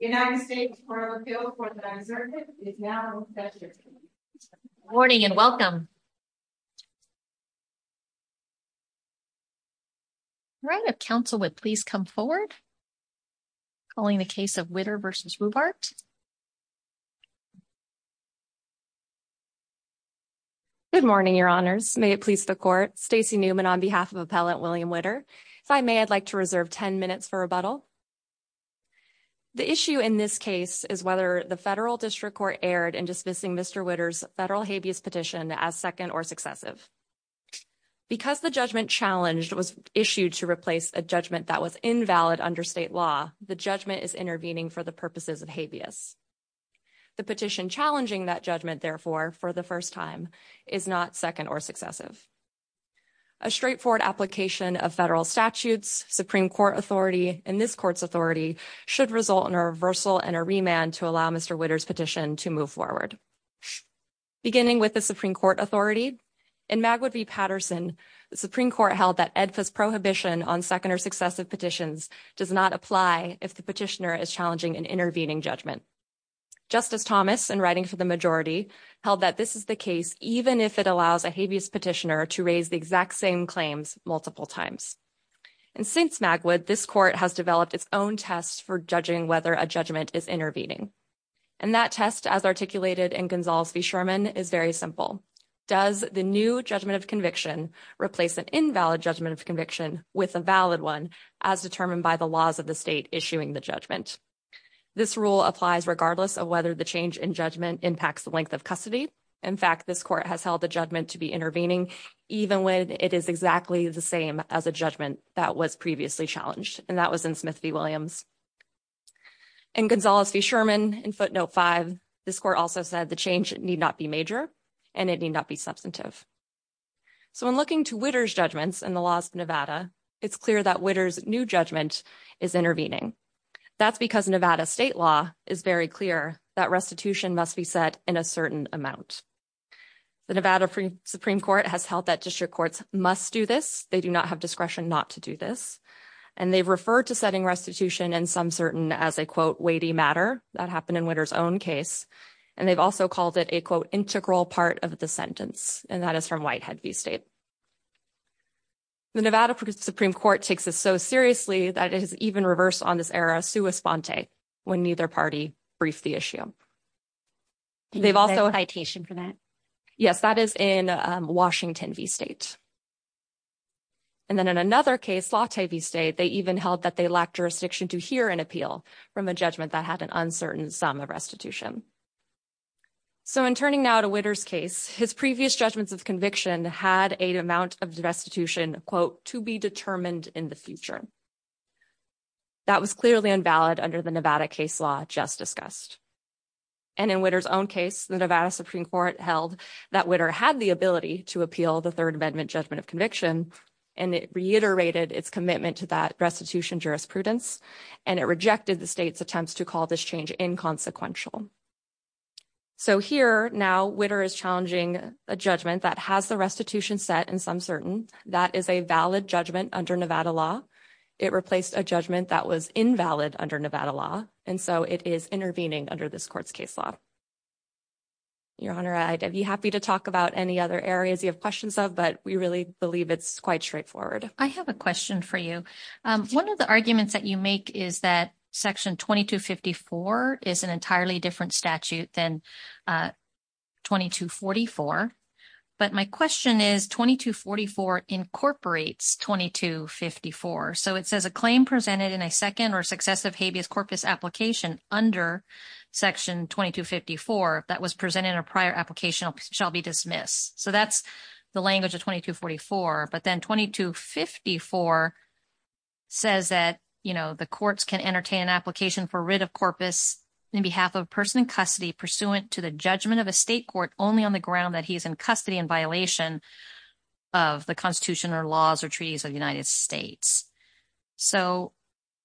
Good morning, Your Honors. May it please the Court, Stacey Newman on behalf of Appellant The issue in this case is whether the Federal District Court erred in dismissing Mr. Witter's federal habeas petition as second or successive. Because the judgment challenged was issued to replace a judgment that was invalid under state law, the judgment is intervening for the purposes of habeas. The petition challenging that judgment, therefore, for the first time, is not second or successive. A straightforward application of federal statutes, Supreme Court authority, and this Court's authority should result in a reversal and a remand to allow Mr. Witter's petition to move forward. Beginning with the Supreme Court authority, in Magwood v. Patterson, the Supreme Court held that ADFA's prohibition on second or successive petitions does not apply if the petitioner is challenging an intervening judgment. Justice Thomas, in writing for the majority, held that this is the case even if it allows a habeas petitioner to raise the exact same claims multiple times. And since Magwood, this Court has developed its own test for judging whether a judgment is intervening. And that test, as articulated in Gonzales v. Sherman, is very simple. Does the new judgment of conviction replace an invalid judgment of conviction with a valid one as determined by the laws of the state issuing the judgment? This rule applies regardless of whether the change in judgment impacts the length of custody. In fact, this Court has held the judgment to be intervening even when it is exactly the same as a judgment that was previously challenged, and that was in Smith v. Williams. In Gonzales v. Sherman, in footnote 5, this Court also said the change need not be major and it need not be substantive. So in looking to Witter's judgments and the laws of Nevada, it's clear that Witter's new judgment is intervening. That's because Nevada state law is very clear that restitution must be set in a certain amount. The Nevada Supreme Court has held that district courts must do this. They do not have discretion not to do this. And they've referred to setting restitution in some certain as a, quote, weighty matter. That happened in Witter's own case. And they've also called it a, quote, integral part of the sentence. And that is from Whitehead v. State. The Nevada Supreme Court takes this so seriously that it has even reversed on this error, sua sponte, when neither party briefed the issue. They've also. Citation for that. Yes, that is in Washington v. State. And then in another case, Latte v. State, they even held that they lacked jurisdiction to hear an appeal from a judgment that had an uncertain sum of restitution. So in turning now to Witter's case, his previous judgments of conviction had an amount of restitution, quote, to be determined in the future. That was clearly invalid under the Nevada case law just discussed. And in Witter's own case, the Nevada Supreme Court held that Witter had the ability to appeal the Third Amendment judgment of conviction. And it reiterated its commitment to that restitution jurisprudence. And it rejected the state's attempts to call this change inconsequential. So here now, Witter is challenging a judgment that has the restitution set in some certain. That is a valid judgment under Nevada law. It replaced a judgment that was invalid under Nevada law. And so it is intervening under this court's case law. Your Honor, I'd be happy to talk about any other areas you have questions of, but we really believe it's quite straightforward. I have a question for you. One of the arguments that you make is that Section 2254 is an entirely different statute than 2244. But my question is 2244 incorporates 2254. So it says a claim presented in a second or successive habeas corpus application under Section 2254 that was presented in a prior application shall be dismissed. So that's the language of 2244. But then 2254 says that, you know, the courts can entertain an application for writ of corpus in behalf of a person in custody pursuant to the judgment of a state court only on the ground that he is in custody in violation of the Constitution or laws or treaties of the United States. So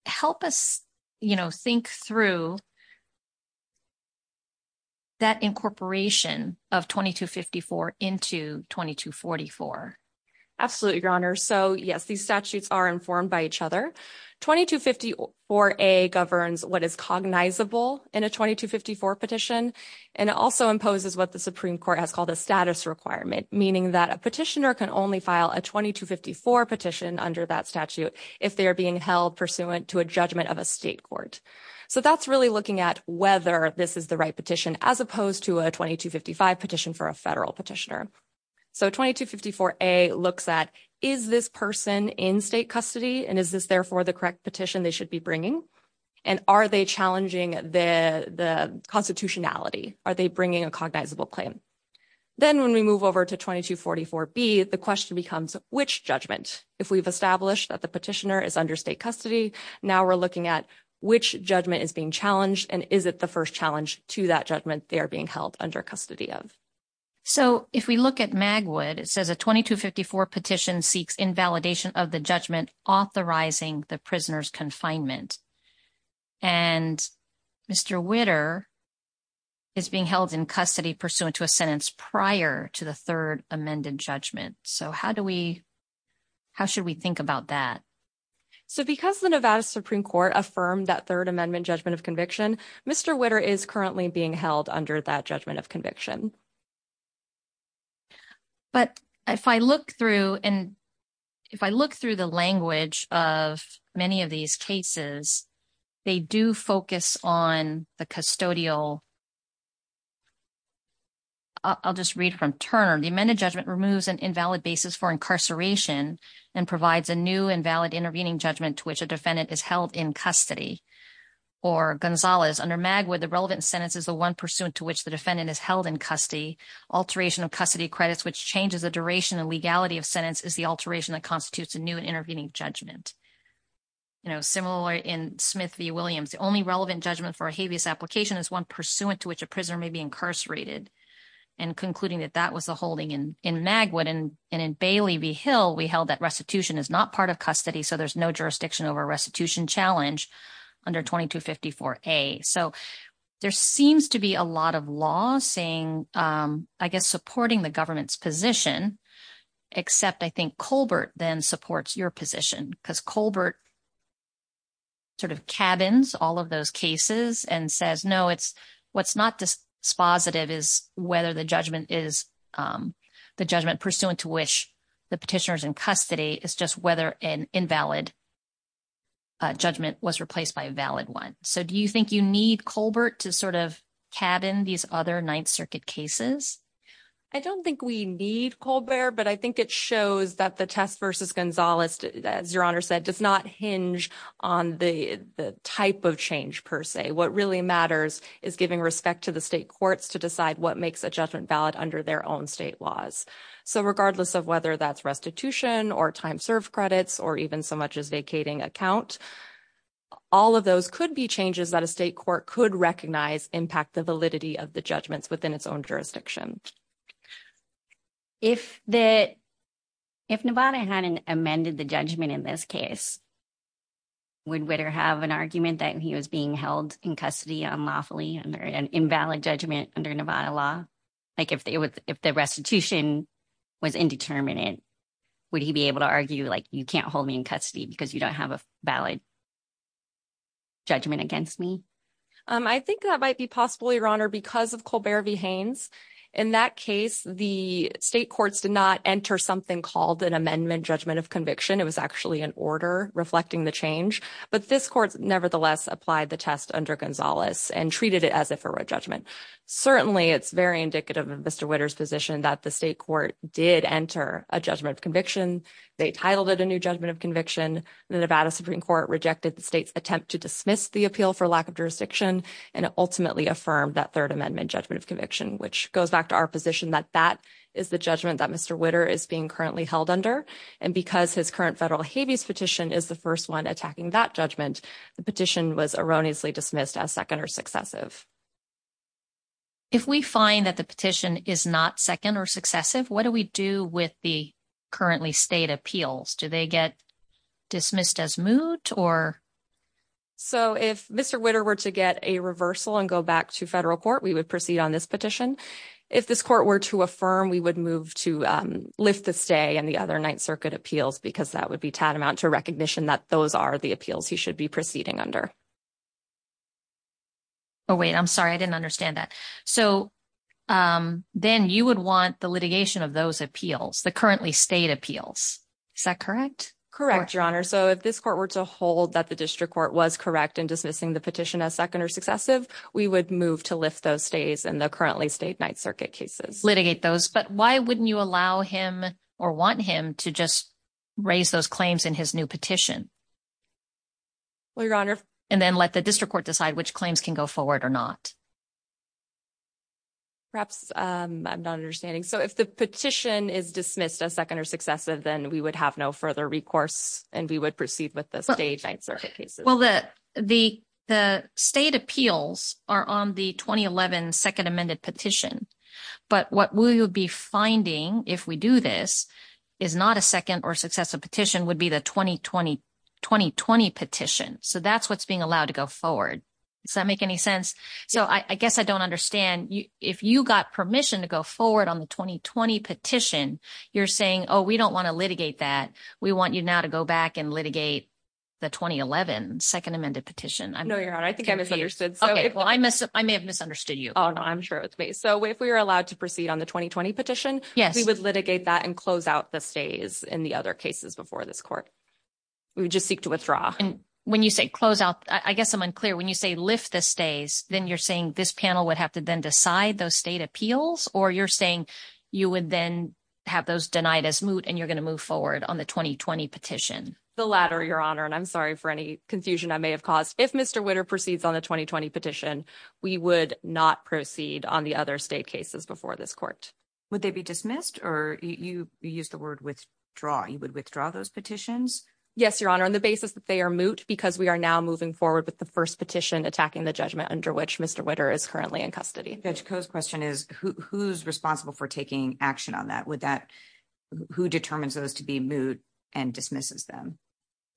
help us, you know, think through that incorporation of 2254 into 2244. Absolutely, Your Honor. So, yes, these statutes are informed by each other. 2254A governs what is cognizable in a 2254 petition and also imposes what the Supreme Court has called a status requirement, meaning that a petitioner can only file a 2254 petition under that statute if they are being held pursuant to a judgment of a state court. So that's really looking at whether this is the right petition as opposed to a 2255 petition for a federal petitioner. So 2254A looks at, is this person in state custody and is this therefore the correct petition they should be bringing? And are they challenging the constitutionality? Are they bringing a cognizable claim? Then when we move over to 2244B, the question becomes, which judgment? If we've established that the petitioner is under state custody, now we're looking at which judgment is being challenged and is it the first challenge to that judgment they are being held under custody of? So if we look at Magwood, it says a 2254 petition seeks invalidation of the judgment authorizing the prisoner's confinement. And Mr. Witter is being held in custody pursuant to a sentence prior to the third amended judgment. So how do we, how should we think about that? So because the Nevada Supreme Court affirmed that third amendment judgment of conviction, Mr. Witter is currently being held under that judgment of conviction. But if I look through and if I look through the language of many of these cases, they do focus on the custodial. I'll just read from Turner. The amended judgment removes an invalid basis for incarceration and provides a new and valid intervening judgment to which a defendant is held in custody. Or Gonzalez, under Magwood, the relevant sentence is the one pursuant to which the defendant is held in custody. Alteration of custody credits, which changes the duration and legality of sentence, is the alteration that constitutes a new and intervening judgment. Similar in Smith v. Williams. The only relevant judgment for a habeas application is one pursuant to which a prisoner may be incarcerated. And concluding that that was the holding in Magwood. And in Bailey v. Hill, we held that restitution is not part of custody, so there's no jurisdiction over a restitution challenge under 2254A. So there seems to be a lot of law saying, I guess, supporting the government's position, except I think Colbert then supports your position. Because Colbert sort of cabins all of those cases and says, no, what's not dispositive is whether the judgment is the judgment pursuant to which the petitioner is in custody. It's just whether an invalid judgment was replaced by a valid one. So do you think you need Colbert to sort of cabin these other Ninth Circuit cases? I don't think we need Colbert, but I think it shows that the test versus Gonzalez, as your Honor said, does not hinge on the type of change per se. What really matters is giving respect to the state courts to decide what makes a judgment valid under their own state laws. So regardless of whether that's restitution or time served credits or even so much as vacating account, all of those could be changes that a state court could recognize impact the validity of the judgments within its own jurisdiction. If Nevada hadn't amended the judgment in this case, would Witter have an argument that he was being held in custody unlawfully under an invalid judgment under Nevada law? Like, if the restitution was indeterminate, would he be able to argue, like, you can't hold me in custody because you don't have a valid judgment against me? I think that might be possible, Your Honor, because of Colbert v. Haynes. In that case, the state courts did not enter something called an amendment judgment of conviction. It was actually an order reflecting the change. But this court nevertheless applied the test under Gonzalez and treated it as if it were a judgment. Certainly, it's very indicative of Mr. Witter's position that the state court did enter a judgment of conviction. They titled it a new judgment of conviction. The Nevada Supreme Court rejected the state's attempt to dismiss the appeal for lack of jurisdiction and ultimately affirmed that Third Amendment judgment of conviction, which goes back to our position that that is the judgment that Mr. Witter is being currently held under. And because his current federal habeas petition is the first one attacking that judgment, the petition was erroneously dismissed as second or successive. If we find that the petition is not second or successive, what do we do with the currently stayed appeals? Do they get dismissed as moot or? So if Mr. Witter were to get a reversal and go back to federal court, we would proceed on this petition. If this court were to affirm, we would move to lift the stay and the other Ninth Circuit appeals because that would be tantamount to recognition that those are the appeals he should be proceeding under. Oh, wait, I'm sorry, I didn't understand that. So then you would want the litigation of those appeals, the currently stayed appeals. Is that correct? Correct, Your Honor. So if this court were to hold that the district court was correct in dismissing the petition as second or successive, we would move to lift those stays and the currently stayed Ninth Circuit cases litigate those. But why wouldn't you allow him or want him to just raise those claims in his new petition? Well, Your Honor. And then let the district court decide which claims can go forward or not. Perhaps I'm not understanding. So if the petition is dismissed as second or successive, then we would have no further recourse and we would proceed with the stay and Ninth Circuit cases. Well, the state appeals are on the 2011 second amended petition. But what we would be finding if we do this is not a second or successive petition would be the 2020 petition. So that's what's being allowed to go forward. Does that make any sense? So I guess I don't understand. If you got permission to go forward on the 2020 petition, you're saying, oh, we don't want to litigate that. We want you now to go back and litigate the 2011 second amended petition. No, Your Honor. I think I misunderstood. Well, I may have misunderstood you. Oh, no. I'm sure it was me. So if we were allowed to proceed on the 2020 petition, we would litigate that and close out the stays in the other cases before this court. We would just seek to withdraw. And when you say close out, I guess I'm unclear. When you say lift the stays, then you're saying this panel would have to then decide those state appeals. Or you're saying you would then have those denied as moot and you're going to move forward on the 2020 petition. The latter, Your Honor. And I'm sorry for any confusion I may have caused. If Mr. Witter proceeds on the 2020 petition, we would not proceed on the other state cases before this court. Would they be dismissed or you use the word withdraw? You would withdraw those petitions? Yes, Your Honor. On the basis that they are moot because we are now moving forward with the first petition attacking the judgment under which Mr. Witter is currently in custody. The question is who's responsible for taking action on that? Would that who determines those to be moot and dismisses them?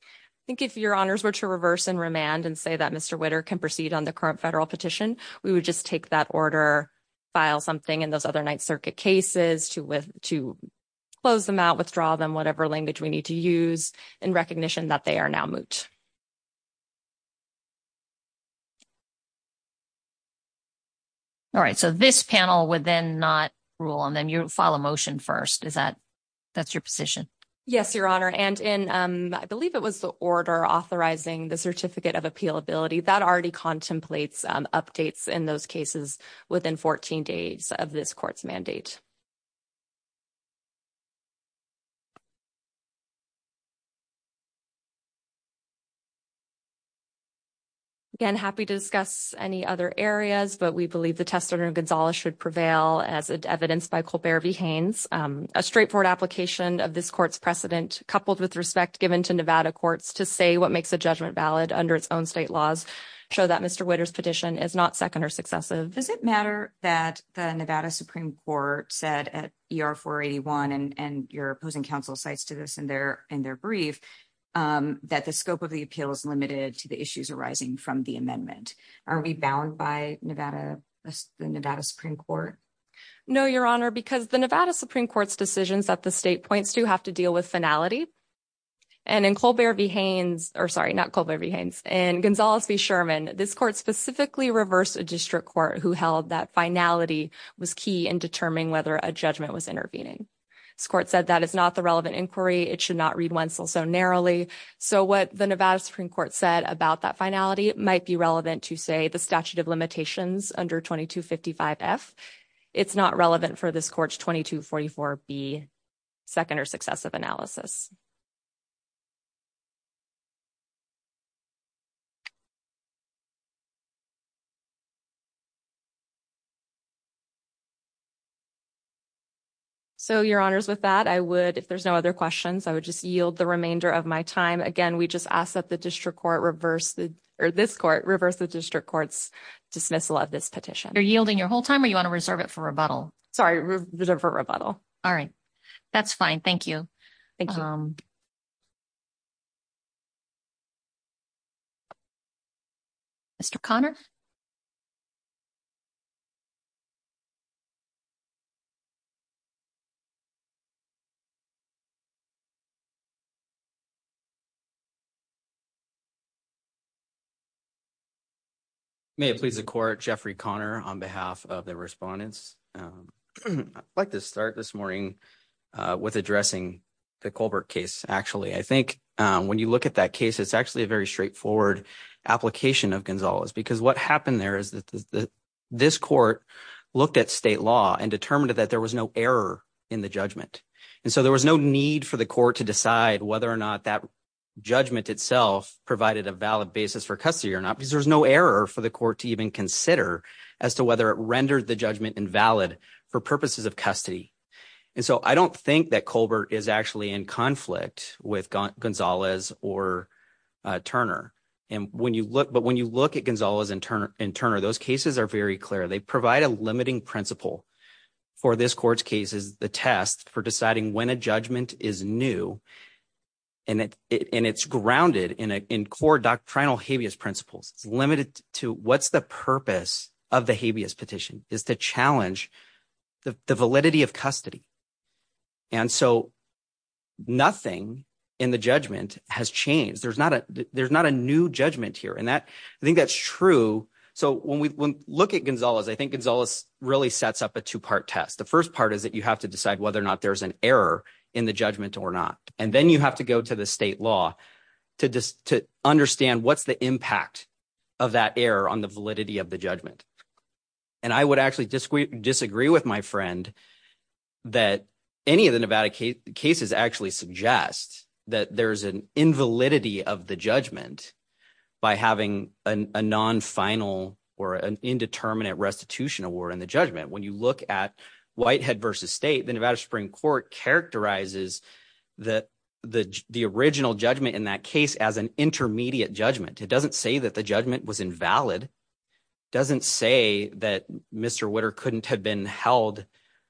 I think if Your Honors were to reverse and remand and say that Mr. Witter can proceed on the current federal petition, we would just take that order, file something in those other Ninth Circuit cases to with to close them out, withdraw them, whatever language we need to use. In recognition that they are now moot. All right, so this panel would then not rule and then you file a motion first. Is that that's your position? Yes, Your Honor. And in I believe it was the order authorizing the certificate of appeal ability that already contemplates updates in those cases within 14 days of this court's mandate. Again, happy to discuss any other areas, but we believe the testimony of Gonzalez should prevail as evidenced by Colbert V. Haynes. A straightforward application of this court's precedent coupled with respect given to Nevada courts to say what makes a judgment valid under its own state laws show that Mr. Witter's petition is not second or successive. Does it matter that the Nevada Supreme Court said at ER 481 and your opposing counsel cites to this in their in their brief that the scope of the appeal is limited to the issues arising from the amendment? Are we bound by Nevada, Nevada Supreme Court? No, Your Honor, because the Nevada Supreme Court's decisions that the state points to have to deal with finality. And in Colbert V. Haynes, or sorry, not Colbert V. Haynes and Gonzalez v. Sherman, this court specifically reversed a district court who held that finality was key in determining whether a judgment was intervening. This court said that is not the relevant inquiry. It should not read Wenzel so narrowly. So what the Nevada Supreme Court said about that finality might be relevant to say the statute of limitations under 2255 F. It's not relevant for this court's 2244 B second or successive analysis. So, Your Honors, with that, I would if there's no other questions, I would just yield the remainder of my time again. We just ask that the district court reverse the or this court reverse the district court's dismissal of this petition. You're yielding your whole time or you want to reserve it for rebuttal? Sorry, for rebuttal. All right. That's fine. Thank you. Thank you. Thank you. Mr. Connor. May it please the court Jeffrey Connor on behalf of the respondents. I'd like to start this morning with addressing the Colbert case. Actually, I think when you look at that case, it's actually a very straightforward application of Gonzalez because what happened there is that this court looked at state law and determined that there was no error in the judgment. And so there was no need for the court to decide whether or not that judgment itself provided a valid basis for custody or not, because there's no error for the court to even consider as to whether it rendered the judgment invalid for purposes of custody. And so I don't think that Colbert is actually in conflict with Gonzalez or Turner. And when you look – but when you look at Gonzalez and Turner, those cases are very clear. They provide a limiting principle for this court's cases, the test for deciding when a judgment is new, and it's grounded in core doctrinal habeas principles. It's limited to what's the purpose of the habeas petition is to challenge the validity of custody. And so nothing in the judgment has changed. There's not a new judgment here, and I think that's true. So when we look at Gonzalez, I think Gonzalez really sets up a two-part test. The first part is that you have to decide whether or not there's an error in the judgment or not, and then you have to go to the state law to understand what's the impact of that error on the validity of the judgment. And I would actually disagree with my friend that any of the Nevada cases actually suggest that there's an invalidity of the judgment by having a non-final or an indeterminate restitution award in the judgment. When you look at Whitehead v. State, the Nevada Supreme Court characterizes the original judgment in that case as an intermediate judgment. It doesn't say that the judgment was invalid. It doesn't say that Mr. Witter couldn't have been held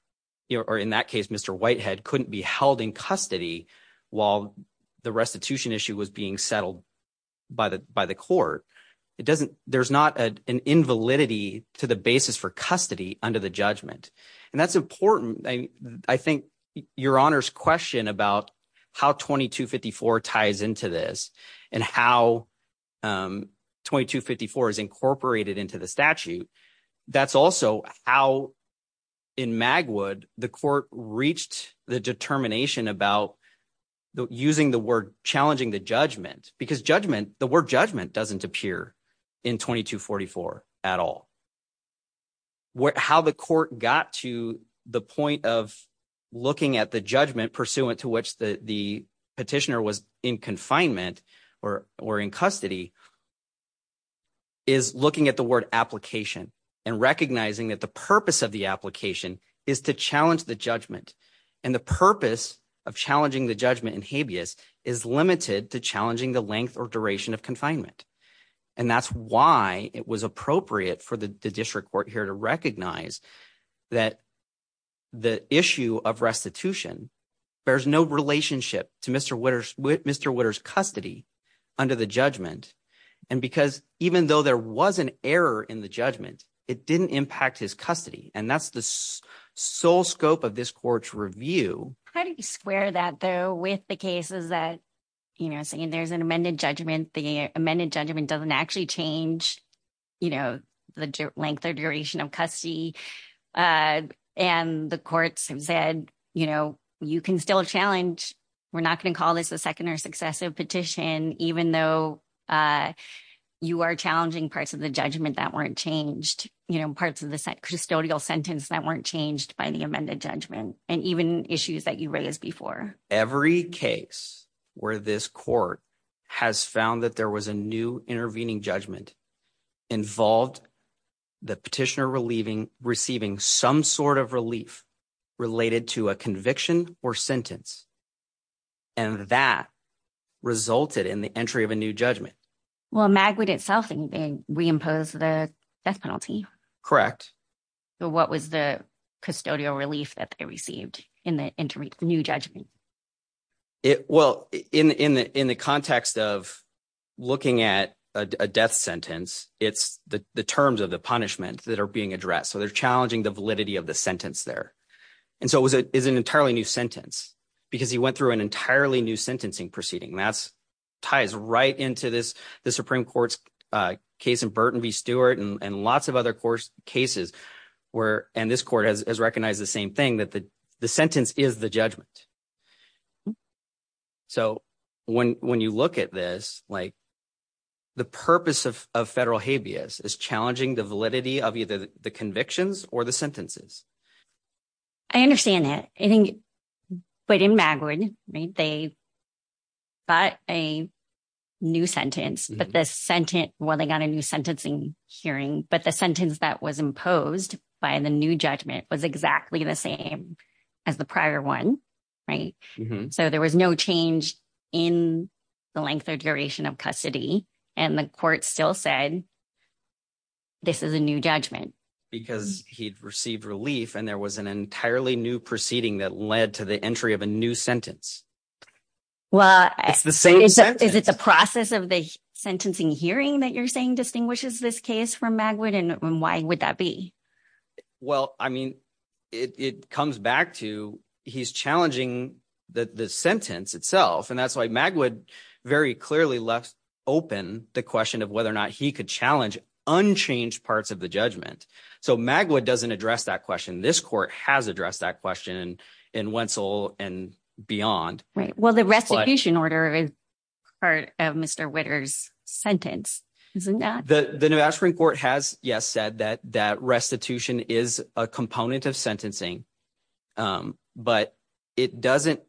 – or in that case, Mr. Whitehead couldn't be held in custody while the restitution issue was being settled by the court. It doesn't – there's not an invalidity to the basis for custody under the judgment, and that's important. I think Your Honor's question about how 2254 ties into this and how 2254 is incorporated into the statute, that's also how, in Magwood, the court reached the determination about using the word challenging the judgment because judgment – the word judgment doesn't appear in 2244 at all. How the court got to the point of looking at the judgment pursuant to which the petitioner was in confinement or in custody is looking at the word application and recognizing that the purpose of the application is to challenge the judgment. And the purpose of challenging the judgment in habeas is limited to challenging the length or duration of confinement. And that's why it was appropriate for the district court here to recognize that the issue of restitution bears no relationship to Mr. Witter's custody under the judgment. And because even though there was an error in the judgment, it didn't impact his custody, and that's the sole scope of this court's review. How do you square that, though, with the cases that, you know, saying there's an amended judgment, the amended judgment doesn't actually change, you know, the length or duration of custody, and the courts have said, you know, you can still challenge. We're not going to call this a second or successive petition, even though you are challenging parts of the judgment that weren't changed, you know, parts of the custodial sentence that weren't changed by the amended judgment. And even issues that you raised before. Every case where this court has found that there was a new intervening judgment involved the petitioner receiving some sort of relief related to a conviction or sentence, and that resulted in the entry of a new judgment. Well, Magwood itself reimposed the death penalty. Correct. So what was the custodial relief that they received in the new judgment? Well, in the context of looking at a death sentence, it's the terms of the punishment that are being addressed. So they're challenging the validity of the sentence there. And so it's an entirely new sentence because he went through an entirely new sentencing proceeding, and that ties right into the Supreme Court's case in Burton v. Stewart and lots of other cases where – and this court has recognized the same thing, that the sentence is the judgment. So when you look at this, like, the purpose of federal habeas is challenging the validity of either the convictions or the sentences. I understand that. I think – but in Magwood, they bought a new sentence, but the sentence – well, they got a new sentencing hearing, but the sentence that was imposed by the new judgment was exactly the same as the prior one, right? So there was no change in the length or duration of custody, and the court still said this is a new judgment. Because he'd received relief, and there was an entirely new proceeding that led to the entry of a new sentence. Well, it's the same sentence. Is it the process of the sentencing hearing that you're saying distinguishes this case from Magwood, and why would that be? Well, I mean it comes back to he's challenging the sentence itself, and that's why Magwood very clearly left open the question of whether or not he could challenge unchanged parts of the judgment. So Magwood doesn't address that question. This court has addressed that question in Wentzel and beyond. Well, the restitution order is part of Mr. Witter's sentence, isn't that? The New Ashburn Court has, yes, said that restitution is a component of sentencing, but it doesn't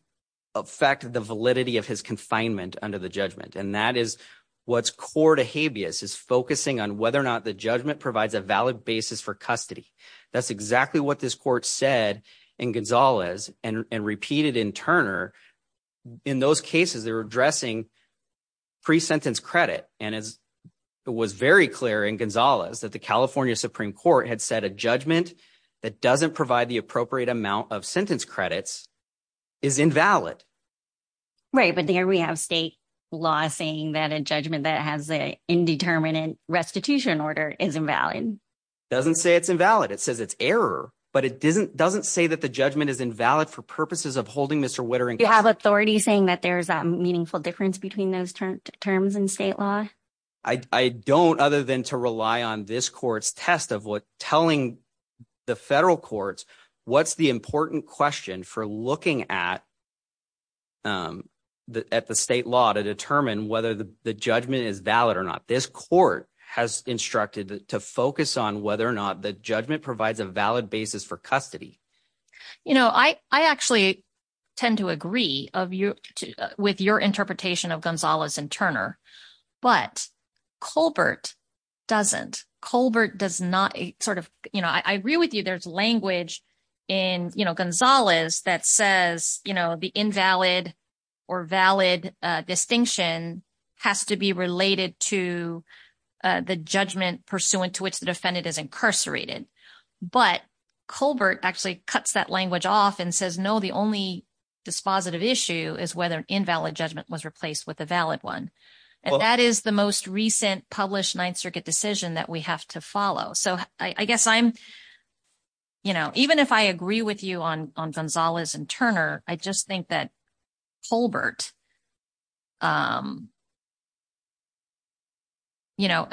affect the validity of his confinement under the judgment, and that is what's core to habeas is focusing on whether or not the judgment provides a valid basis for custody. That's exactly what this court said in Gonzalez and repeated in Turner. In those cases, they're addressing pre-sentence credit, and it was very clear in Gonzalez that the California Supreme Court had said a judgment that doesn't provide the appropriate amount of sentence credits is invalid. Right, but there we have state law saying that a judgment that has an indeterminate restitution order is invalid. It doesn't say it's invalid. It says it's error, but it doesn't say that the judgment is invalid for purposes of holding Mr. Witter in custody. Do you have authority saying that there's a meaningful difference between those terms in state law? I don't other than to rely on this court's test of telling the federal courts what's the important question for looking at the state law to determine whether the judgment is valid or not. This court has instructed to focus on whether or not the judgment provides a valid basis for custody. I actually tend to agree with your interpretation of Gonzalez and Turner, but Colbert doesn't. Colbert does not sort of – I agree with you there's language in Gonzalez that says the invalid or valid distinction has to be related to the judgment pursuant to which the defendant is incarcerated. But Colbert actually cuts that language off and says, no, the only dispositive issue is whether an invalid judgment was replaced with a valid one. And that is the most recent published Ninth Circuit decision that we have to follow. So I guess I'm – even if I agree with you on Gonzalez and Turner, I just think that Colbert –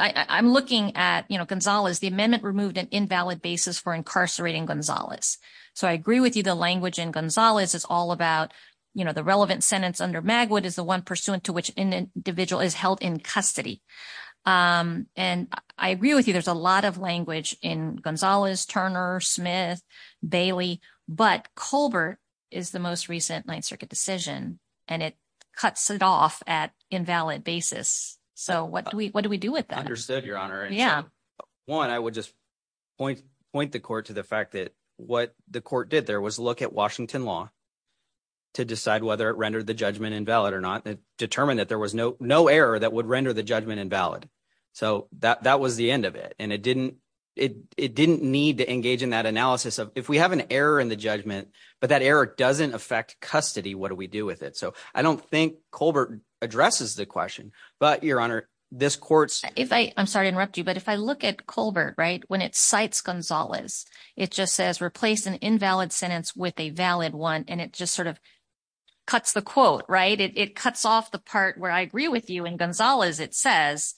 I'm looking at Gonzalez, the amendment removed an invalid basis for incarcerating Gonzalez. So I agree with you the language in Gonzalez is all about the relevant sentence under Magwood is the one pursuant to which an individual is held in custody. And I agree with you there's a lot of language in Gonzalez, Turner, Smith, Bailey, but Colbert is the most recent Ninth Circuit decision, and it cuts it off at invalid basis. So what do we do with that? It determined that there was no error that would render the judgment invalid. So that was the end of it, and it didn't need to engage in that analysis of if we have an error in the judgment, but that error doesn't affect custody, what do we do with it? So I don't think Colbert addresses the question, but, Your Honor, this court's… …where I agree with you in Gonzalez it says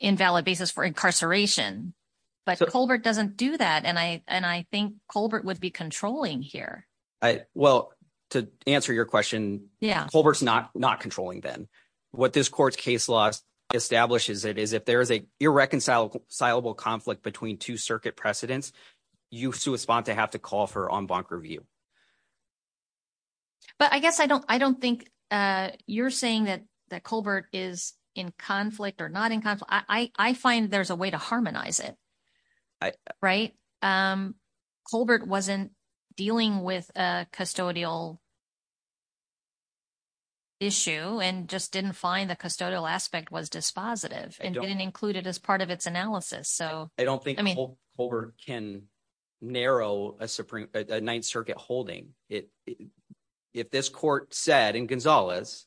invalid basis for incarceration. But Colbert doesn't do that, and I think Colbert would be controlling here. Well, to answer your question, Colbert is not controlling then. What this court's case law establishes it is if there is an irreconcilable conflict between two circuit precedents, you have to respond to have to call for en banc review. But I guess I don't think you're saying that Colbert is in conflict or not in conflict. I find there's a way to harmonize it, right? Colbert wasn't dealing with a custodial issue and just didn't find the custodial aspect was dispositive and didn't include it as part of its analysis. I don't think Colbert can narrow a Ninth Circuit holding. If this court said in Gonzalez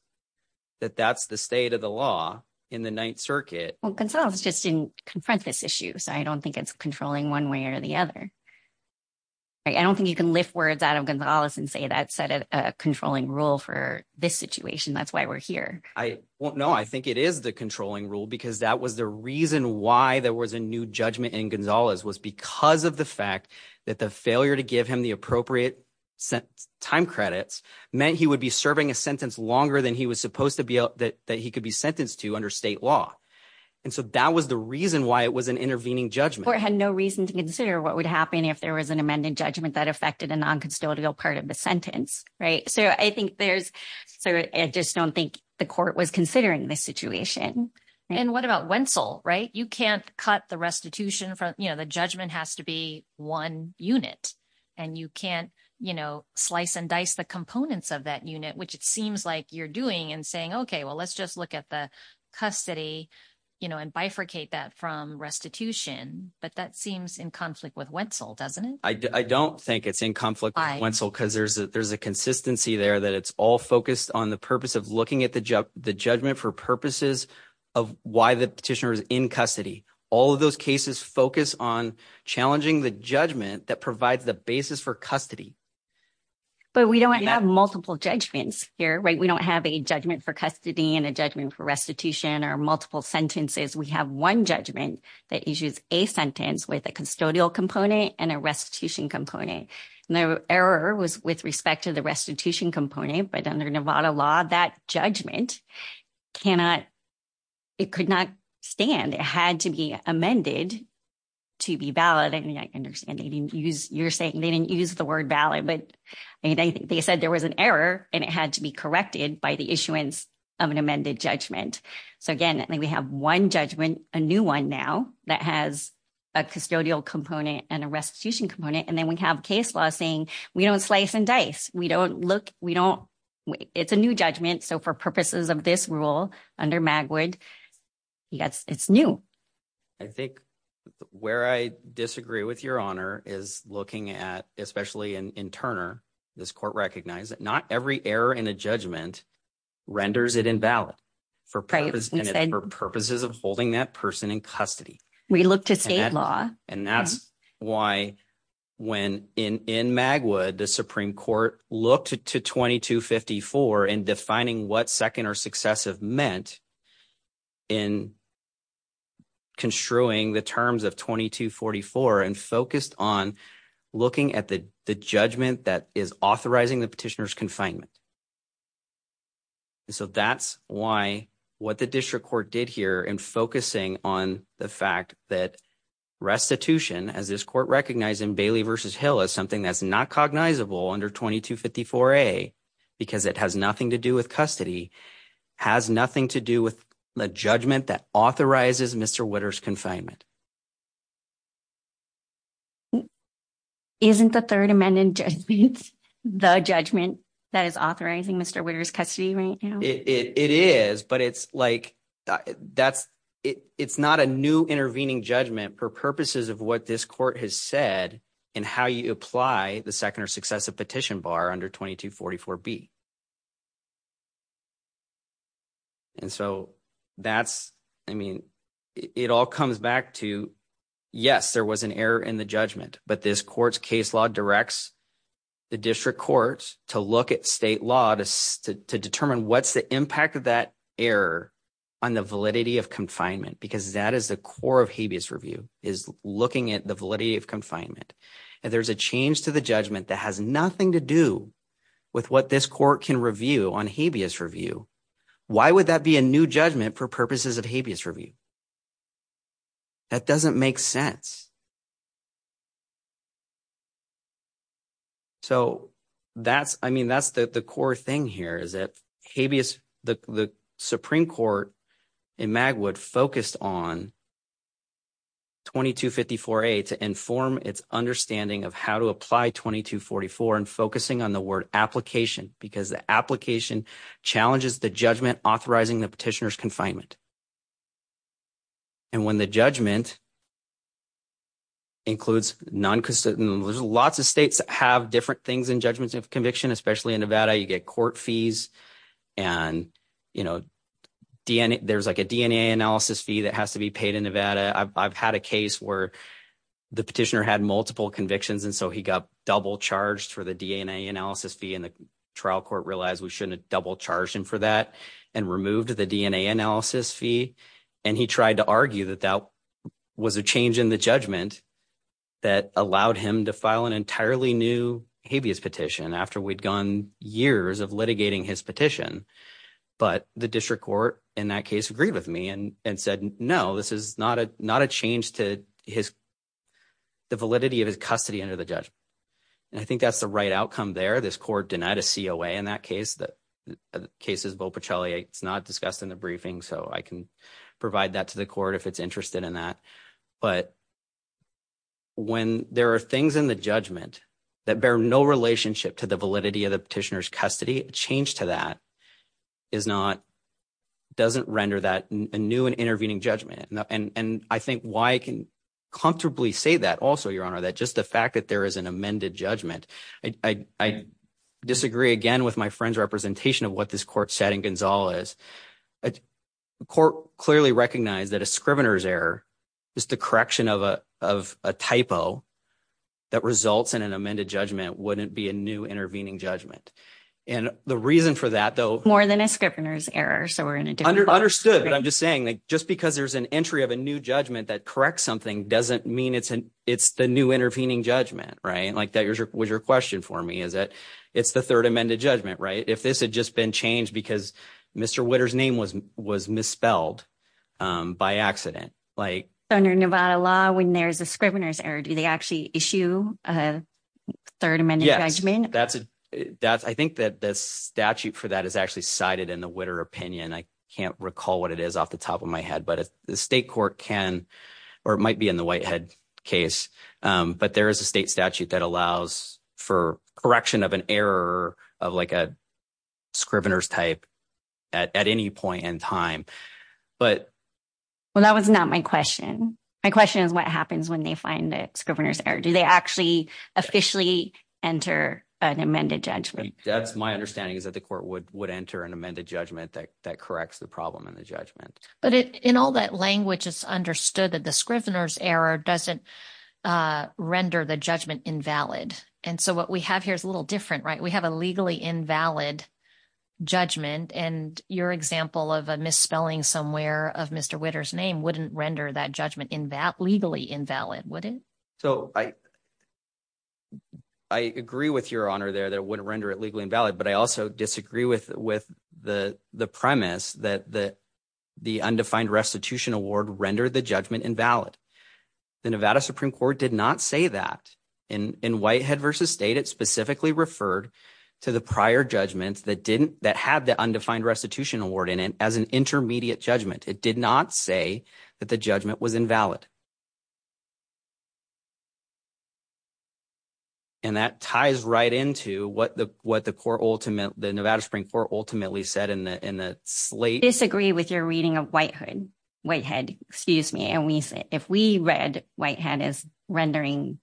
that that's the state of the law in the Ninth Circuit… Well, Gonzalez just didn't confront this issue, so I don't think it's controlling one way or the other. I don't think you can lift words out of Gonzalez and say that's a controlling rule for this situation. That's why we're here. No, I think it is the controlling rule because that was the reason why there was a new judgment in Gonzalez was because of the fact that the failure to give him the appropriate time credits meant he would be serving a sentence longer than he was supposed to be – that he could be sentenced to under state law. And so that was the reason why it was an intervening judgment. The court had no reason to consider what would happen if there was an amended judgment that affected a non-custodial part of the sentence, right? So I think there's – so I just don't think the court was considering this situation. And what about Wentzel, right? You can't cut the restitution from – the judgment has to be one unit, and you can't slice and dice the components of that unit, which it seems like you're doing and saying, okay, well, let's just look at the custody and bifurcate that from restitution. But that seems in conflict with Wentzel, doesn't it? I don't think it's in conflict with Wentzel because there's a consistency there that it's all focused on the purpose of looking at the judgment for purposes of why the petitioner is in custody. All of those cases focus on challenging the judgment that provides the basis for custody. But we don't have multiple judgments here, right? We don't have a judgment for custody and a judgment for restitution or multiple sentences. We have one judgment that issues a sentence with a custodial component and a restitution component. And the error was with respect to the restitution component, but under Nevada law, that judgment cannot – it could not stand. It had to be amended to be valid. And I understand you're saying they didn't use the word valid, but they said there was an error, and it had to be corrected by the issuance of an amended judgment. So, again, we have one judgment, a new one now that has a custodial component and a restitution component, and then we have case law saying we don't slice and dice. We don't – it's a new judgment, so for purposes of this rule under Magwood, it's new. I think where I disagree with Your Honor is looking at – especially in Turner, this court recognized that not every error in a judgment renders it invalid for purposes of holding that person in custody. We look to state law. And that's why when – in Magwood, the Supreme Court looked to 2254 in defining what second or successive meant in construing the terms of 2244 and focused on looking at the judgment that is authorizing the petitioner's confinement. So that's why what the district court did here in focusing on the fact that restitution, as this court recognized in Bailey v. Hill as something that's not cognizable under 2254A because it has nothing to do with custody, has nothing to do with the judgment that authorizes Mr. Witter's confinement. Isn't the Third Amendment judgment the judgment that is authorizing Mr. Witter's custody right now? It is, but it's like – that's – it's not a new intervening judgment for purposes of what this court has said and how you apply the second or successive petition bar under 2244B. And so that's – I mean it all comes back to, yes, there was an error in the judgment, but this court's case law directs the district court to look at state law to determine what's the impact of that error on the validity of confinement because that is the core of habeas review is looking at the validity of confinement. And there's a change to the judgment that has nothing to do with what this court can review on habeas review. Why would that be a new judgment for purposes of habeas review? That doesn't make sense. So that's – I mean that's the core thing here is that habeas – the Supreme Court in Magwood focused on 2254A to inform its understanding of how to apply 2244 and focusing on the word application because the application challenges the judgment authorizing the petitioner's confinement. And when the judgment includes – there's lots of states that have different things in judgments of conviction, especially in Nevada. You get court fees and there's like a DNA analysis fee that has to be paid in Nevada. I've had a case where the petitioner had multiple convictions, and so he got double-charged for the DNA analysis fee, and the trial court realized we shouldn't have double-charged him for that and removed the DNA analysis fee. And he tried to argue that that was a change in the judgment that allowed him to file an entirely new habeas petition after we'd gone years of litigating his petition. But the district court in that case agreed with me and said, no, this is not a change to his – the validity of his custody under the judgment. And I think that's the right outcome there. This court denied a COA in that case. The case is Bo Pacelli. It's not discussed in the briefing, so I can provide that to the court if it's interested in that. But when there are things in the judgment that bear no relationship to the validity of the petitioner's custody, a change to that is not – doesn't render that a new and intervening judgment. And I think why I can comfortably say that also, Your Honor, that just the fact that there is an amended judgment, I disagree again with my friend's representation of what this court said in Gonzalez. The court clearly recognized that a scrivener's error is the correction of a typo that results in an amended judgment wouldn't be a new intervening judgment. And the reason for that, though – More than a scrivener's error, so we're in a different place. Understood. But I'm just saying that just because there's an entry of a new judgment that corrects something doesn't mean it's the new intervening judgment, right? Like that was your question for me, is that it's the third amended judgment, right? If this had just been changed because Mr. Witter's name was misspelled by accident. Under Nevada law, when there's a scrivener's error, do they actually issue a third amended judgment? Yes. I think that the statute for that is actually cited in the Witter opinion. I can't recall what it is off the top of my head, but the state court can – or it might be in the Whitehead case. But there is a state statute that allows for correction of an error of like a scrivener's type at any point in time. But – Well, that was not my question. My question is what happens when they find a scrivener's error. Do they actually officially enter an amended judgment? That's – my understanding is that the court would enter an amended judgment that corrects the problem in the judgment. But in all that language, it's understood that the scrivener's error doesn't render the judgment invalid. And so what we have here is a little different, right? We have a legally invalid judgment, and your example of a misspelling somewhere of Mr. Witter's name wouldn't render that judgment legally invalid, would it? So I agree with your honor there that it wouldn't render it legally invalid, but I also disagree with the premise that the undefined restitution award rendered the judgment invalid. The Nevada Supreme Court did not say that. In Whitehead v. State, it specifically referred to the prior judgments that didn't – that had the undefined restitution award in it as an intermediate judgment. It did not say that the judgment was invalid. And that ties right into what the court ultimate – the Nevada Supreme Court ultimately said in the slate. I disagree with your reading of Whitehood – Whitehead, excuse me. And we – if we read Whitehead as rendering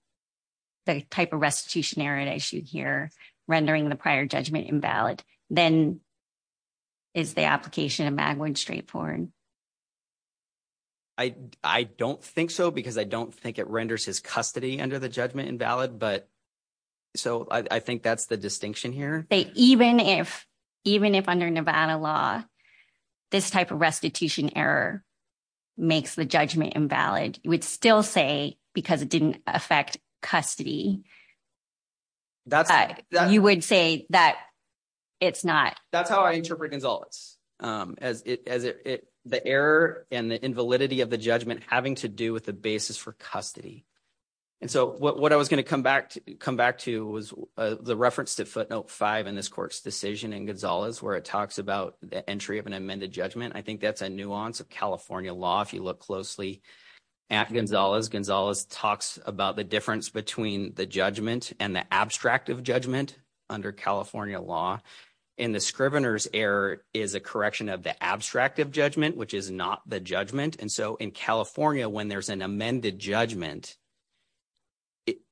the type of restitution error that I issued here, rendering the prior judgment invalid, then is the application of Magwood straightforward? I don't think so because I don't think it renders his custody under the judgment invalid, but – so I think that's the distinction here. Even if – even if under Nevada law this type of restitution error makes the judgment invalid, you would still say because it didn't affect custody. That's – You would say that it's not. That's how I interpret Gonzales, as it – the error and the invalidity of the judgment having to do with the basis for custody. And so what I was going to come back to was the reference to footnote 5 in this court's decision in Gonzales where it talks about the entry of an amended judgment. I think that's a nuance of California law if you look closely at Gonzales. Gonzales talks about the difference between the judgment and the abstract of judgment under California law. And the scrivener's error is a correction of the abstract of judgment, which is not the judgment. And so in California, when there's an amended judgment,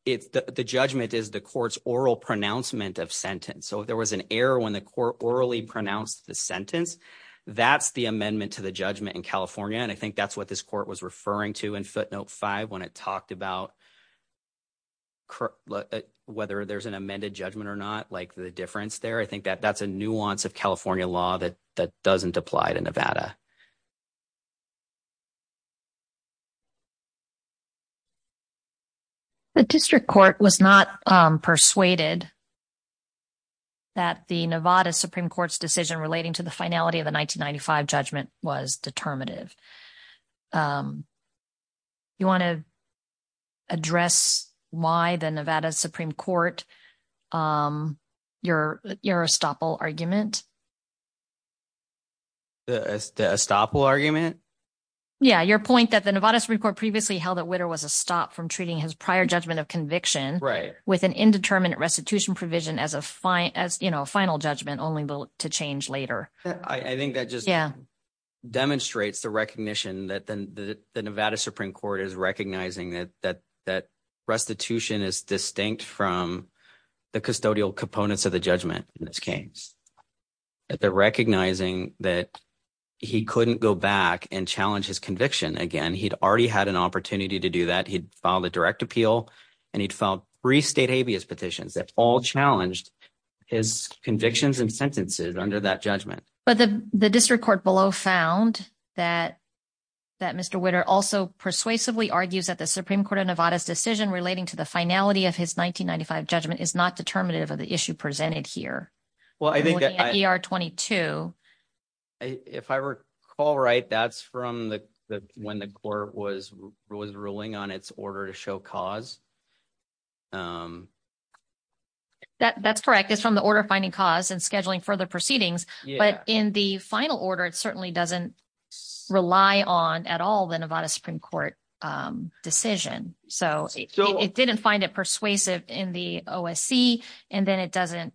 the judgment is the court's oral pronouncement of sentence. So if there was an error when the court orally pronounced the sentence, that's the amendment to the judgment in California. And I think that's what this court was referring to in footnote 5 when it talked about whether there's an amended judgment or not, like the difference there. I think that that's a nuance of California law that doesn't apply to Nevada. The district court was not persuaded that the Nevada Supreme Court's decision relating to the finality of the 1995 judgment was determinative. You want to address why the Nevada Supreme Court, your estoppel argument? The estoppel argument? Yeah, your point that the Nevada Supreme Court previously held that Witter was a stop from treating his prior judgment of conviction with an indeterminate restitution provision as a final judgment only to change later. I think that just demonstrates the recognition that the Nevada Supreme Court is recognizing that restitution is distinct from the custodial components of the judgment in this case. Recognizing that he couldn't go back and challenge his conviction again, he'd already had an opportunity to do that. He'd filed a direct appeal, and he'd filed three state habeas petitions that all challenged his convictions and sentences under that judgment. But the district court below found that Mr. Witter also persuasively argues that the Supreme Court of Nevada's decision relating to the finality of his 1995 judgment is not determinative of the issue presented here. Well, I think that… ER-22. If I recall right, that's from when the court was ruling on its order to show cause? That's correct. It's from the order finding cause and scheduling further proceedings. Yeah. But in the final order, it certainly doesn't rely on at all the Nevada Supreme Court decision. So it didn't find it persuasive in the OSC, and then it doesn't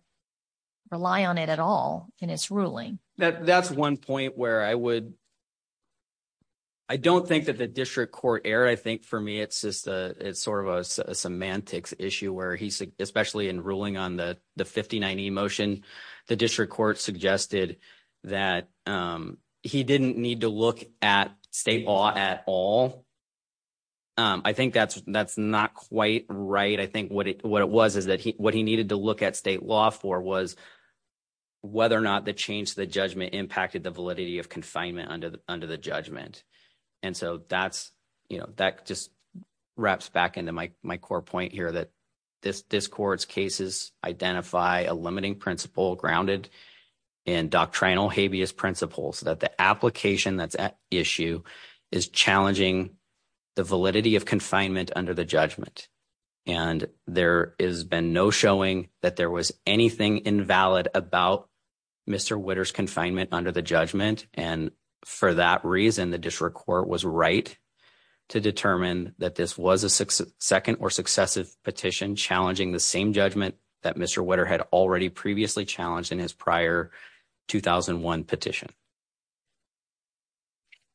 rely on it at all in its ruling. That's one point where I would – I don't think that the district court error. I think for me it's just sort of a semantics issue where he – especially in ruling on the 59E motion, the district court suggested that he didn't need to look at state law at all. I think that's not quite right. I think what it was is that what he needed to look at state law for was whether or not the change to the judgment impacted the validity of confinement under the judgment. And so that's – that just wraps back into my core point here that this court's cases identify a limiting principle grounded in doctrinal habeas principles, that the application that's at issue is challenging the validity of confinement under the judgment. And there has been no showing that there was anything invalid about Mr. Witter's confinement under the judgment. And for that reason, the district court was right to determine that this was a second or successive petition challenging the same judgment that Mr. Witter had already previously challenged in his prior 2001 petition.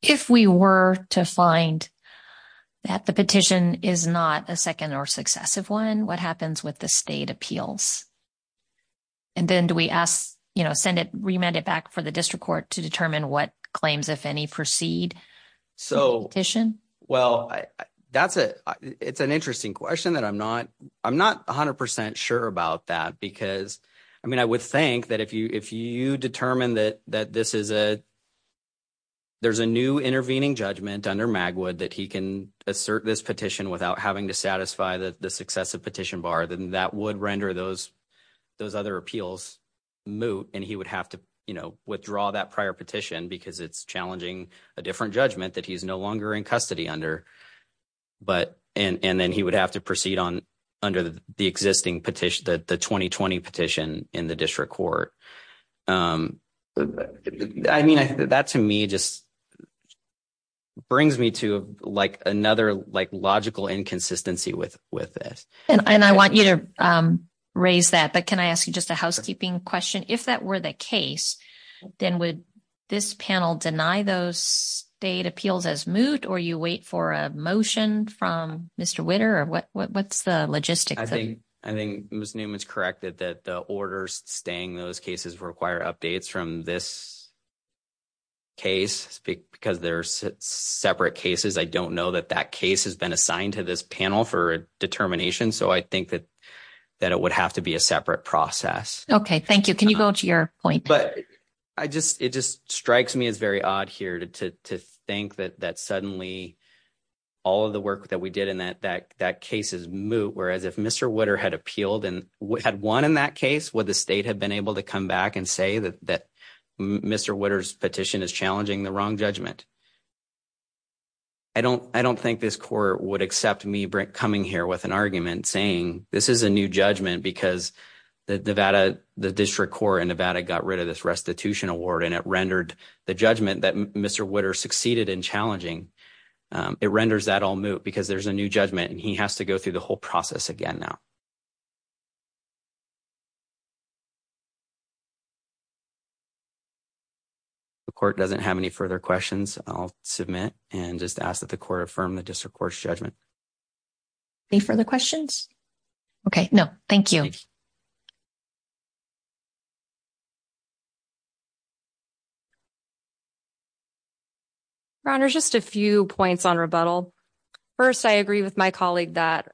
If we were to find that the petition is not a second or successive one, what happens with the state appeals? And then do we ask – send it – remand it back for the district court to determine what claims, if any, precede the petition? Well, that's a – it's an interesting question that I'm not – I'm not 100 percent sure about that because – I mean I would think that if you determine that this is a – there's a new intervening judgment under Magwood that he can assert this petition without having to satisfy the successive petition bar, then that would render those other appeals moot. And he would have to withdraw that prior petition because it's challenging a different judgment that he's no longer in custody under. But – and then he would have to proceed on – under the existing petition, the 2020 petition in the district court. I mean, that to me just brings me to another logical inconsistency with this. And I want you to raise that, but can I ask you just a housekeeping question? If that were the case, then would this panel deny those state appeals as moot, or you wait for a motion from Mr. Witter, or what's the logistics? I think – I think Ms. Newman's correct that the orders staying those cases require updates from this case because they're separate cases. I don't know that that case has been assigned to this panel for determination, so I think that it would have to be a separate process. Okay, thank you. Can you go to your point? But I just – it just strikes me as very odd here to think that suddenly all of the work that we did in that case is moot, whereas if Mr. Witter had appealed and had won in that case, would the state have been able to come back and say that Mr. Witter's petition is challenging the wrong judgment? I don't think this court would accept me coming here with an argument saying this is a new judgment because the Nevada – the district court in Nevada got rid of this restitution award, and it rendered the judgment that Mr. Witter succeeded in challenging. It renders that all moot because there's a new judgment, and he has to go through the whole process again now. The court doesn't have any further questions. I'll submit and just ask that the court affirm the district court's judgment. Any further questions? Okay, no. Thank you. Your Honor, just a few points on rebuttal. First, I agree with my colleague that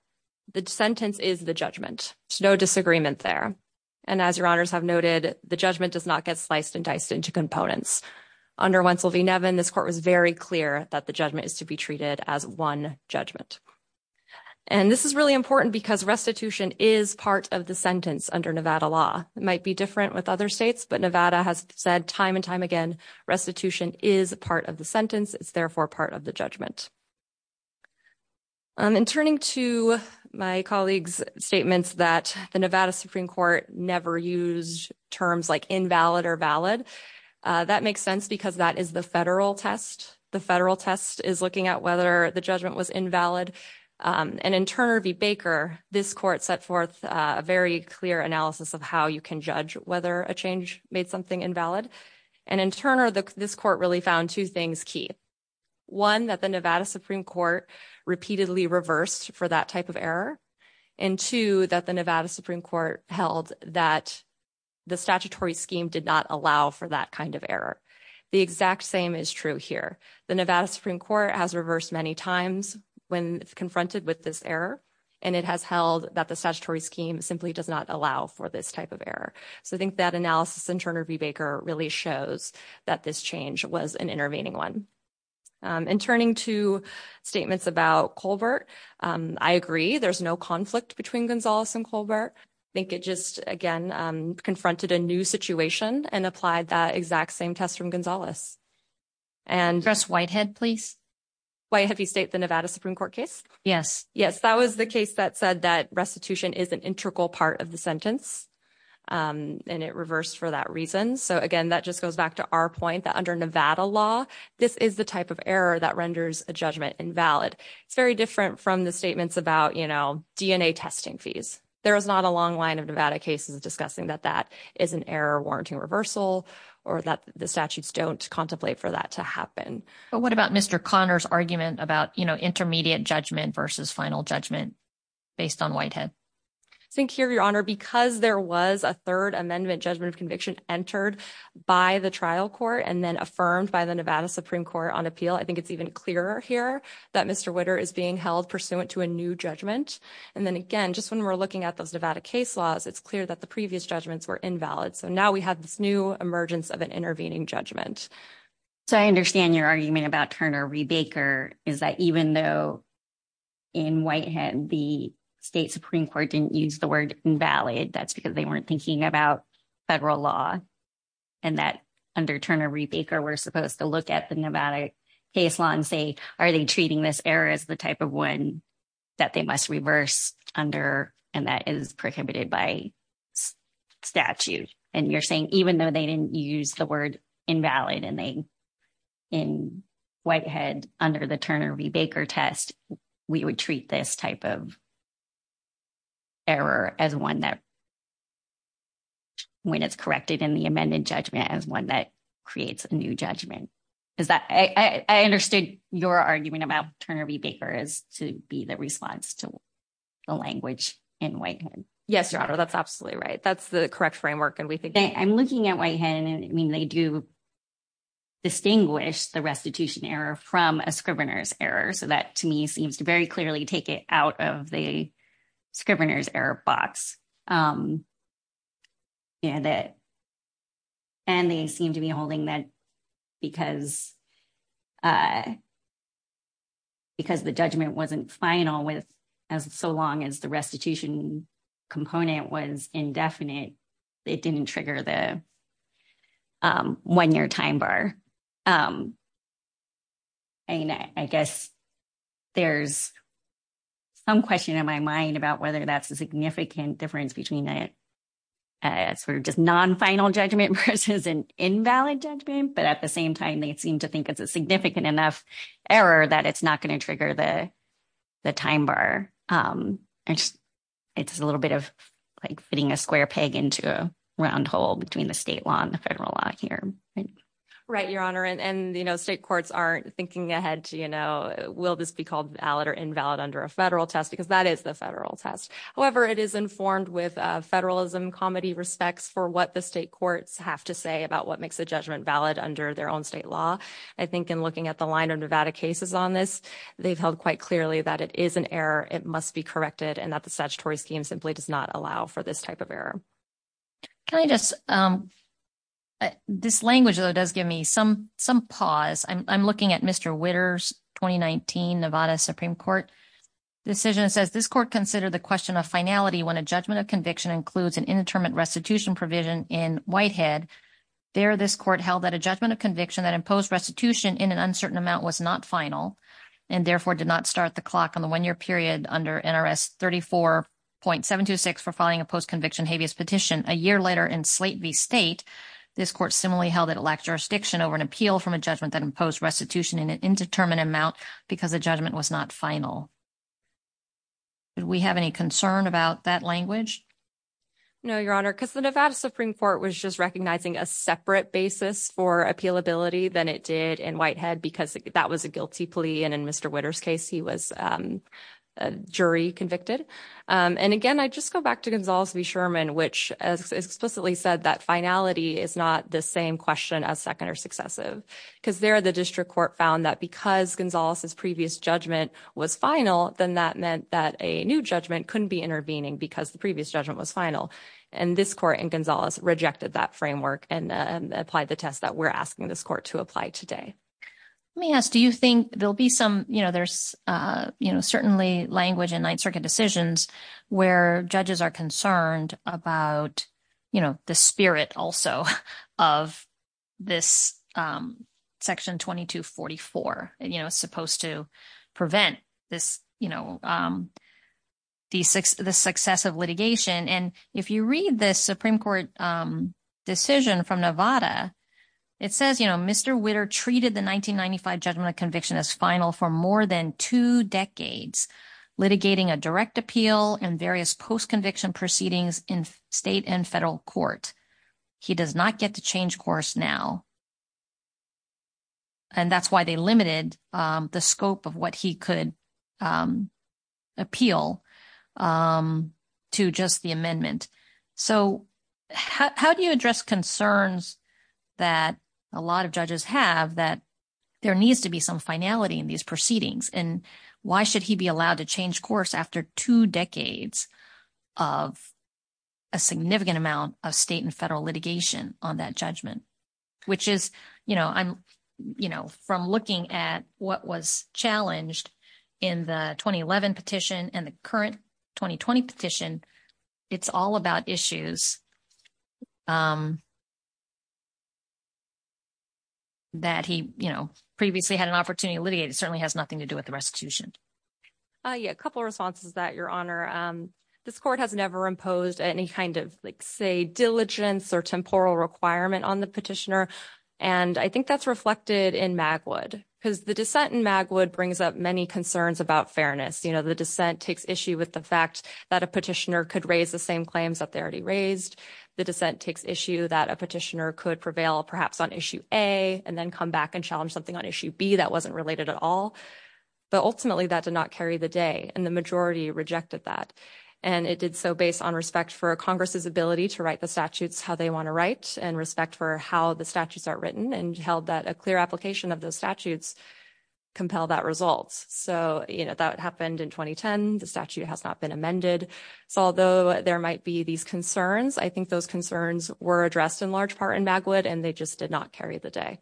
the sentence is the judgment. There's no disagreement there. And as Your Honors have noted, the judgment does not get sliced and diced into components. Under Wentzel v. Nevin, this court was very clear that the judgment is to be treated as one judgment. And this is really important because restitution is part of the sentence under Nevada law. It might be different with other states, but Nevada has said time and time again restitution is part of the sentence. It's therefore part of the judgment. In turning to my colleague's statements that the Nevada Supreme Court never used terms like invalid or valid, that makes sense because that is the federal test. The federal test is looking at whether the judgment was invalid. And in Turner v. Baker, this court set forth a very clear analysis of how you can judge whether a change made something invalid. And in Turner, this court really found two things key. One, that the Nevada Supreme Court repeatedly reversed for that type of error. And two, that the Nevada Supreme Court held that the statutory scheme did not allow for that kind of error. The exact same is true here. The Nevada Supreme Court has reversed many times when confronted with this error. And it has held that the statutory scheme simply does not allow for this type of error. So I think that analysis in Turner v. Baker really shows that this change was an intervening one. In turning to statements about Colbert, I agree there's no conflict between Gonzales and Colbert. I think it just, again, confronted a new situation and applied that exact same test from Gonzales. And- Address Whitehead, please. Whitehead v. State, the Nevada Supreme Court case? Yes. Yes, that was the case that said that restitution is an integral part of the sentence. And it reversed for that reason. So, again, that just goes back to our point that under Nevada law, this is the type of error that renders a judgment invalid. It's very different from the statements about, you know, DNA testing fees. There is not a long line of Nevada cases discussing that that is an error warranting reversal or that the statutes don't contemplate for that to happen. But what about Mr. Conner's argument about, you know, intermediate judgment versus final judgment based on Whitehead? I think here, Your Honor, because there was a third amendment judgment of conviction entered by the trial court and then affirmed by the Nevada Supreme Court on appeal, I think it's even clearer here that Mr. Witter is being held pursuant to a new judgment. And then, again, just when we're looking at those Nevada case laws, it's clear that the previous judgments were invalid. So now we have this new emergence of an intervening judgment. So I understand your argument about Turner v. Baker is that even though in Whitehead the State Supreme Court didn't use the word invalid, that's because they weren't thinking about federal law and that under Turner v. Baker we're supposed to look at the Nevada case law and say, are they treating this error as the type of one that they must reverse under and that is prohibited by statute? And you're saying even though they didn't use the word invalid in Whitehead under the Turner v. Baker test, we would treat this type of error as one that, when it's corrected in the amended judgment, as one that creates a new judgment. I understood your argument about Turner v. Baker as to be the response to the language in Whitehead. Yes, Your Honor, that's absolutely right. That's the correct framework. I'm looking at Whitehead, and I mean, they do distinguish the restitution error from a scrivener's error. So that, to me, seems to very clearly take it out of the scrivener's error box. And they seem to be holding that because the judgment wasn't final so long as the restitution component was indefinite, it didn't trigger the one-year time bar. I guess there's some question in my mind about whether that's a significant difference between a sort of just non-final judgment versus an invalid judgment. But at the same time, they seem to think it's a significant enough error that it's not going to trigger the time bar. It's a little bit of like fitting a square peg into a round hole between the state law and the federal law here. Right, Your Honor, and state courts aren't thinking ahead to, you know, will this be called valid or invalid under a federal test? Because that is the federal test. However, it is informed with federalism comedy respects for what the state courts have to say about what makes a judgment valid under their own state law. I think in looking at the line of Nevada cases on this, they've held quite clearly that it is an error, it must be corrected, and that the statutory scheme simply does not allow for this type of error. Can I just – this language, though, does give me some pause. I'm looking at Mr. Witter's 2019 Nevada Supreme Court decision. It says, this court considered the question of finality when a judgment of conviction includes an indeterminate restitution provision in Whitehead. There, this court held that a judgment of conviction that imposed restitution in an uncertain amount was not final and therefore did not start the clock on the one-year period under NRS 34.726 for filing a post-conviction habeas petition. A year later in Slate v. State, this court similarly held that it lacked jurisdiction over an appeal from a judgment that imposed restitution in an indeterminate amount because the judgment was not final. Do we have any concern about that language? No, Your Honor, because the Nevada Supreme Court was just recognizing a separate basis for appealability than it did in Whitehead because that was a guilty plea. And in Mr. Witter's case, he was jury convicted. And again, I just go back to Gonzales v. Sherman, which explicitly said that finality is not the same question as second or successive. Because there, the district court found that because Gonzales' previous judgment was final, then that meant that a new judgment couldn't be intervening because the previous judgment was final. And this court in Gonzales rejected that framework and applied the test that we're asking this court to apply today. Let me ask, do you think there'll be some, you know, there's, you know, certainly language in Ninth Circuit decisions where judges are concerned about, you know, the spirit also of this Section 2244, you know, supposed to prevent this, you know, the success of litigation. And if you read this Supreme Court decision from Nevada, it says, you know, Mr. Witter treated the 1995 judgment of conviction as final for more than two decades, litigating a direct appeal and various post-conviction proceedings in state and federal court. He does not get to change course now. And that's why they limited the scope of what he could appeal to just the amendment. So how do you address concerns that a lot of judges have that there needs to be some finality in these proceedings, and why should he be allowed to change course after two decades of a significant amount of state and federal litigation on that judgment? Which is, you know, I'm, you know, from looking at what was challenged in the 2011 petition and the current 2020 petition, it's all about issues that he, you know, previously had an opportunity to litigate. It certainly has nothing to do with the restitution. Yeah, a couple of responses to that, Your Honor. This court has never imposed any kind of, like, say, diligence or temporal requirement on the petitioner. And I think that's reflected in Magwood, because the dissent in Magwood brings up many concerns about fairness. You know, the dissent takes issue with the fact that a petitioner could raise the same claims that they already raised. The dissent takes issue that a petitioner could prevail perhaps on issue A and then come back and challenge something on issue B that wasn't related at all. But ultimately, that did not carry the day, and the majority rejected that. And it did so based on respect for Congress's ability to write the statutes how they want to write, and respect for how the statutes are written, and held that a clear application of those statutes compel that result. So, you know, that happened in 2010. The statute has not been amended. So although there might be these concerns, I think those concerns were addressed in large part in Magwood, and they just did not carry the day.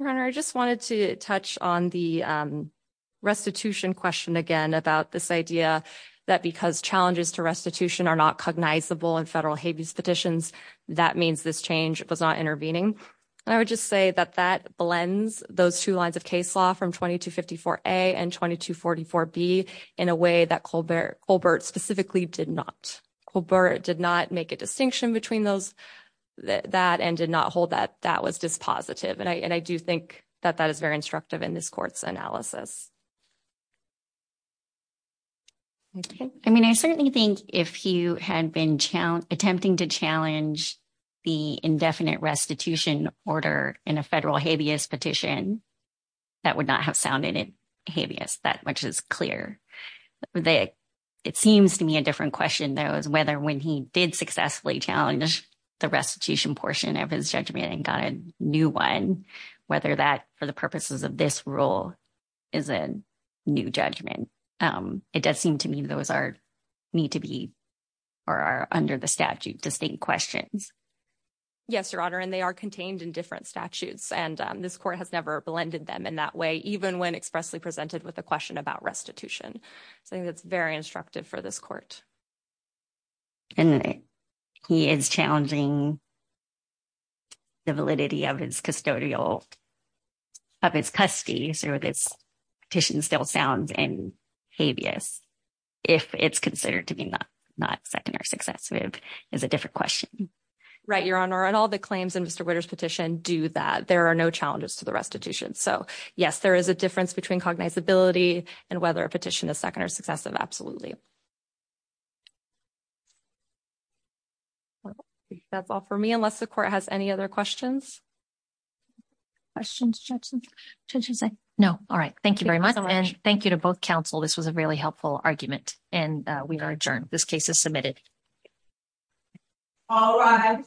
Your Honor, I just wanted to touch on the restitution question again about this idea that because challenges to restitution are not cognizable in federal habeas petitions, that means this change was not intervening. And I would just say that that blends those two lines of case law from 2254A and 2244B in a way that Colbert specifically did not. Colbert did not make a distinction between that and did not hold that that was dispositive. And I do think that that is very instructive in this Court's analysis. I mean, I certainly think if he had been attempting to challenge the indefinite restitution order in a federal habeas petition, that would not have sounded habeas that much as clear. It seems to me a different question, though, is whether when he did successfully challenge the restitution portion of his judgment and got a new one, whether that, for the purposes of this rule, is a new judgment. It does seem to me those need to be or are under the statute distinct questions. Yes, Your Honor, and they are contained in different statutes, and this Court has never blended them in that way, even when expressly presented with a question about restitution. So I think that's very instructive for this Court. And he is challenging the validity of his custodial, of his custody, so this petition still sounds in habeas if it's considered to be not second or successive is a different question. Right, Your Honor, and all the claims in Mr. Witter's petition do that. There are no challenges to the restitution. So, yes, there is a difference between cognizability and whether a petition is second or successive, absolutely. That's all for me, unless the Court has any other questions. Questions, Judges? Judges, no. All right. Thank you very much. And thank you to both counsel. This was a really helpful argument, and we are adjourned. This case is submitted. All rise.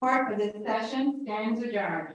Court, the session stands adjourned.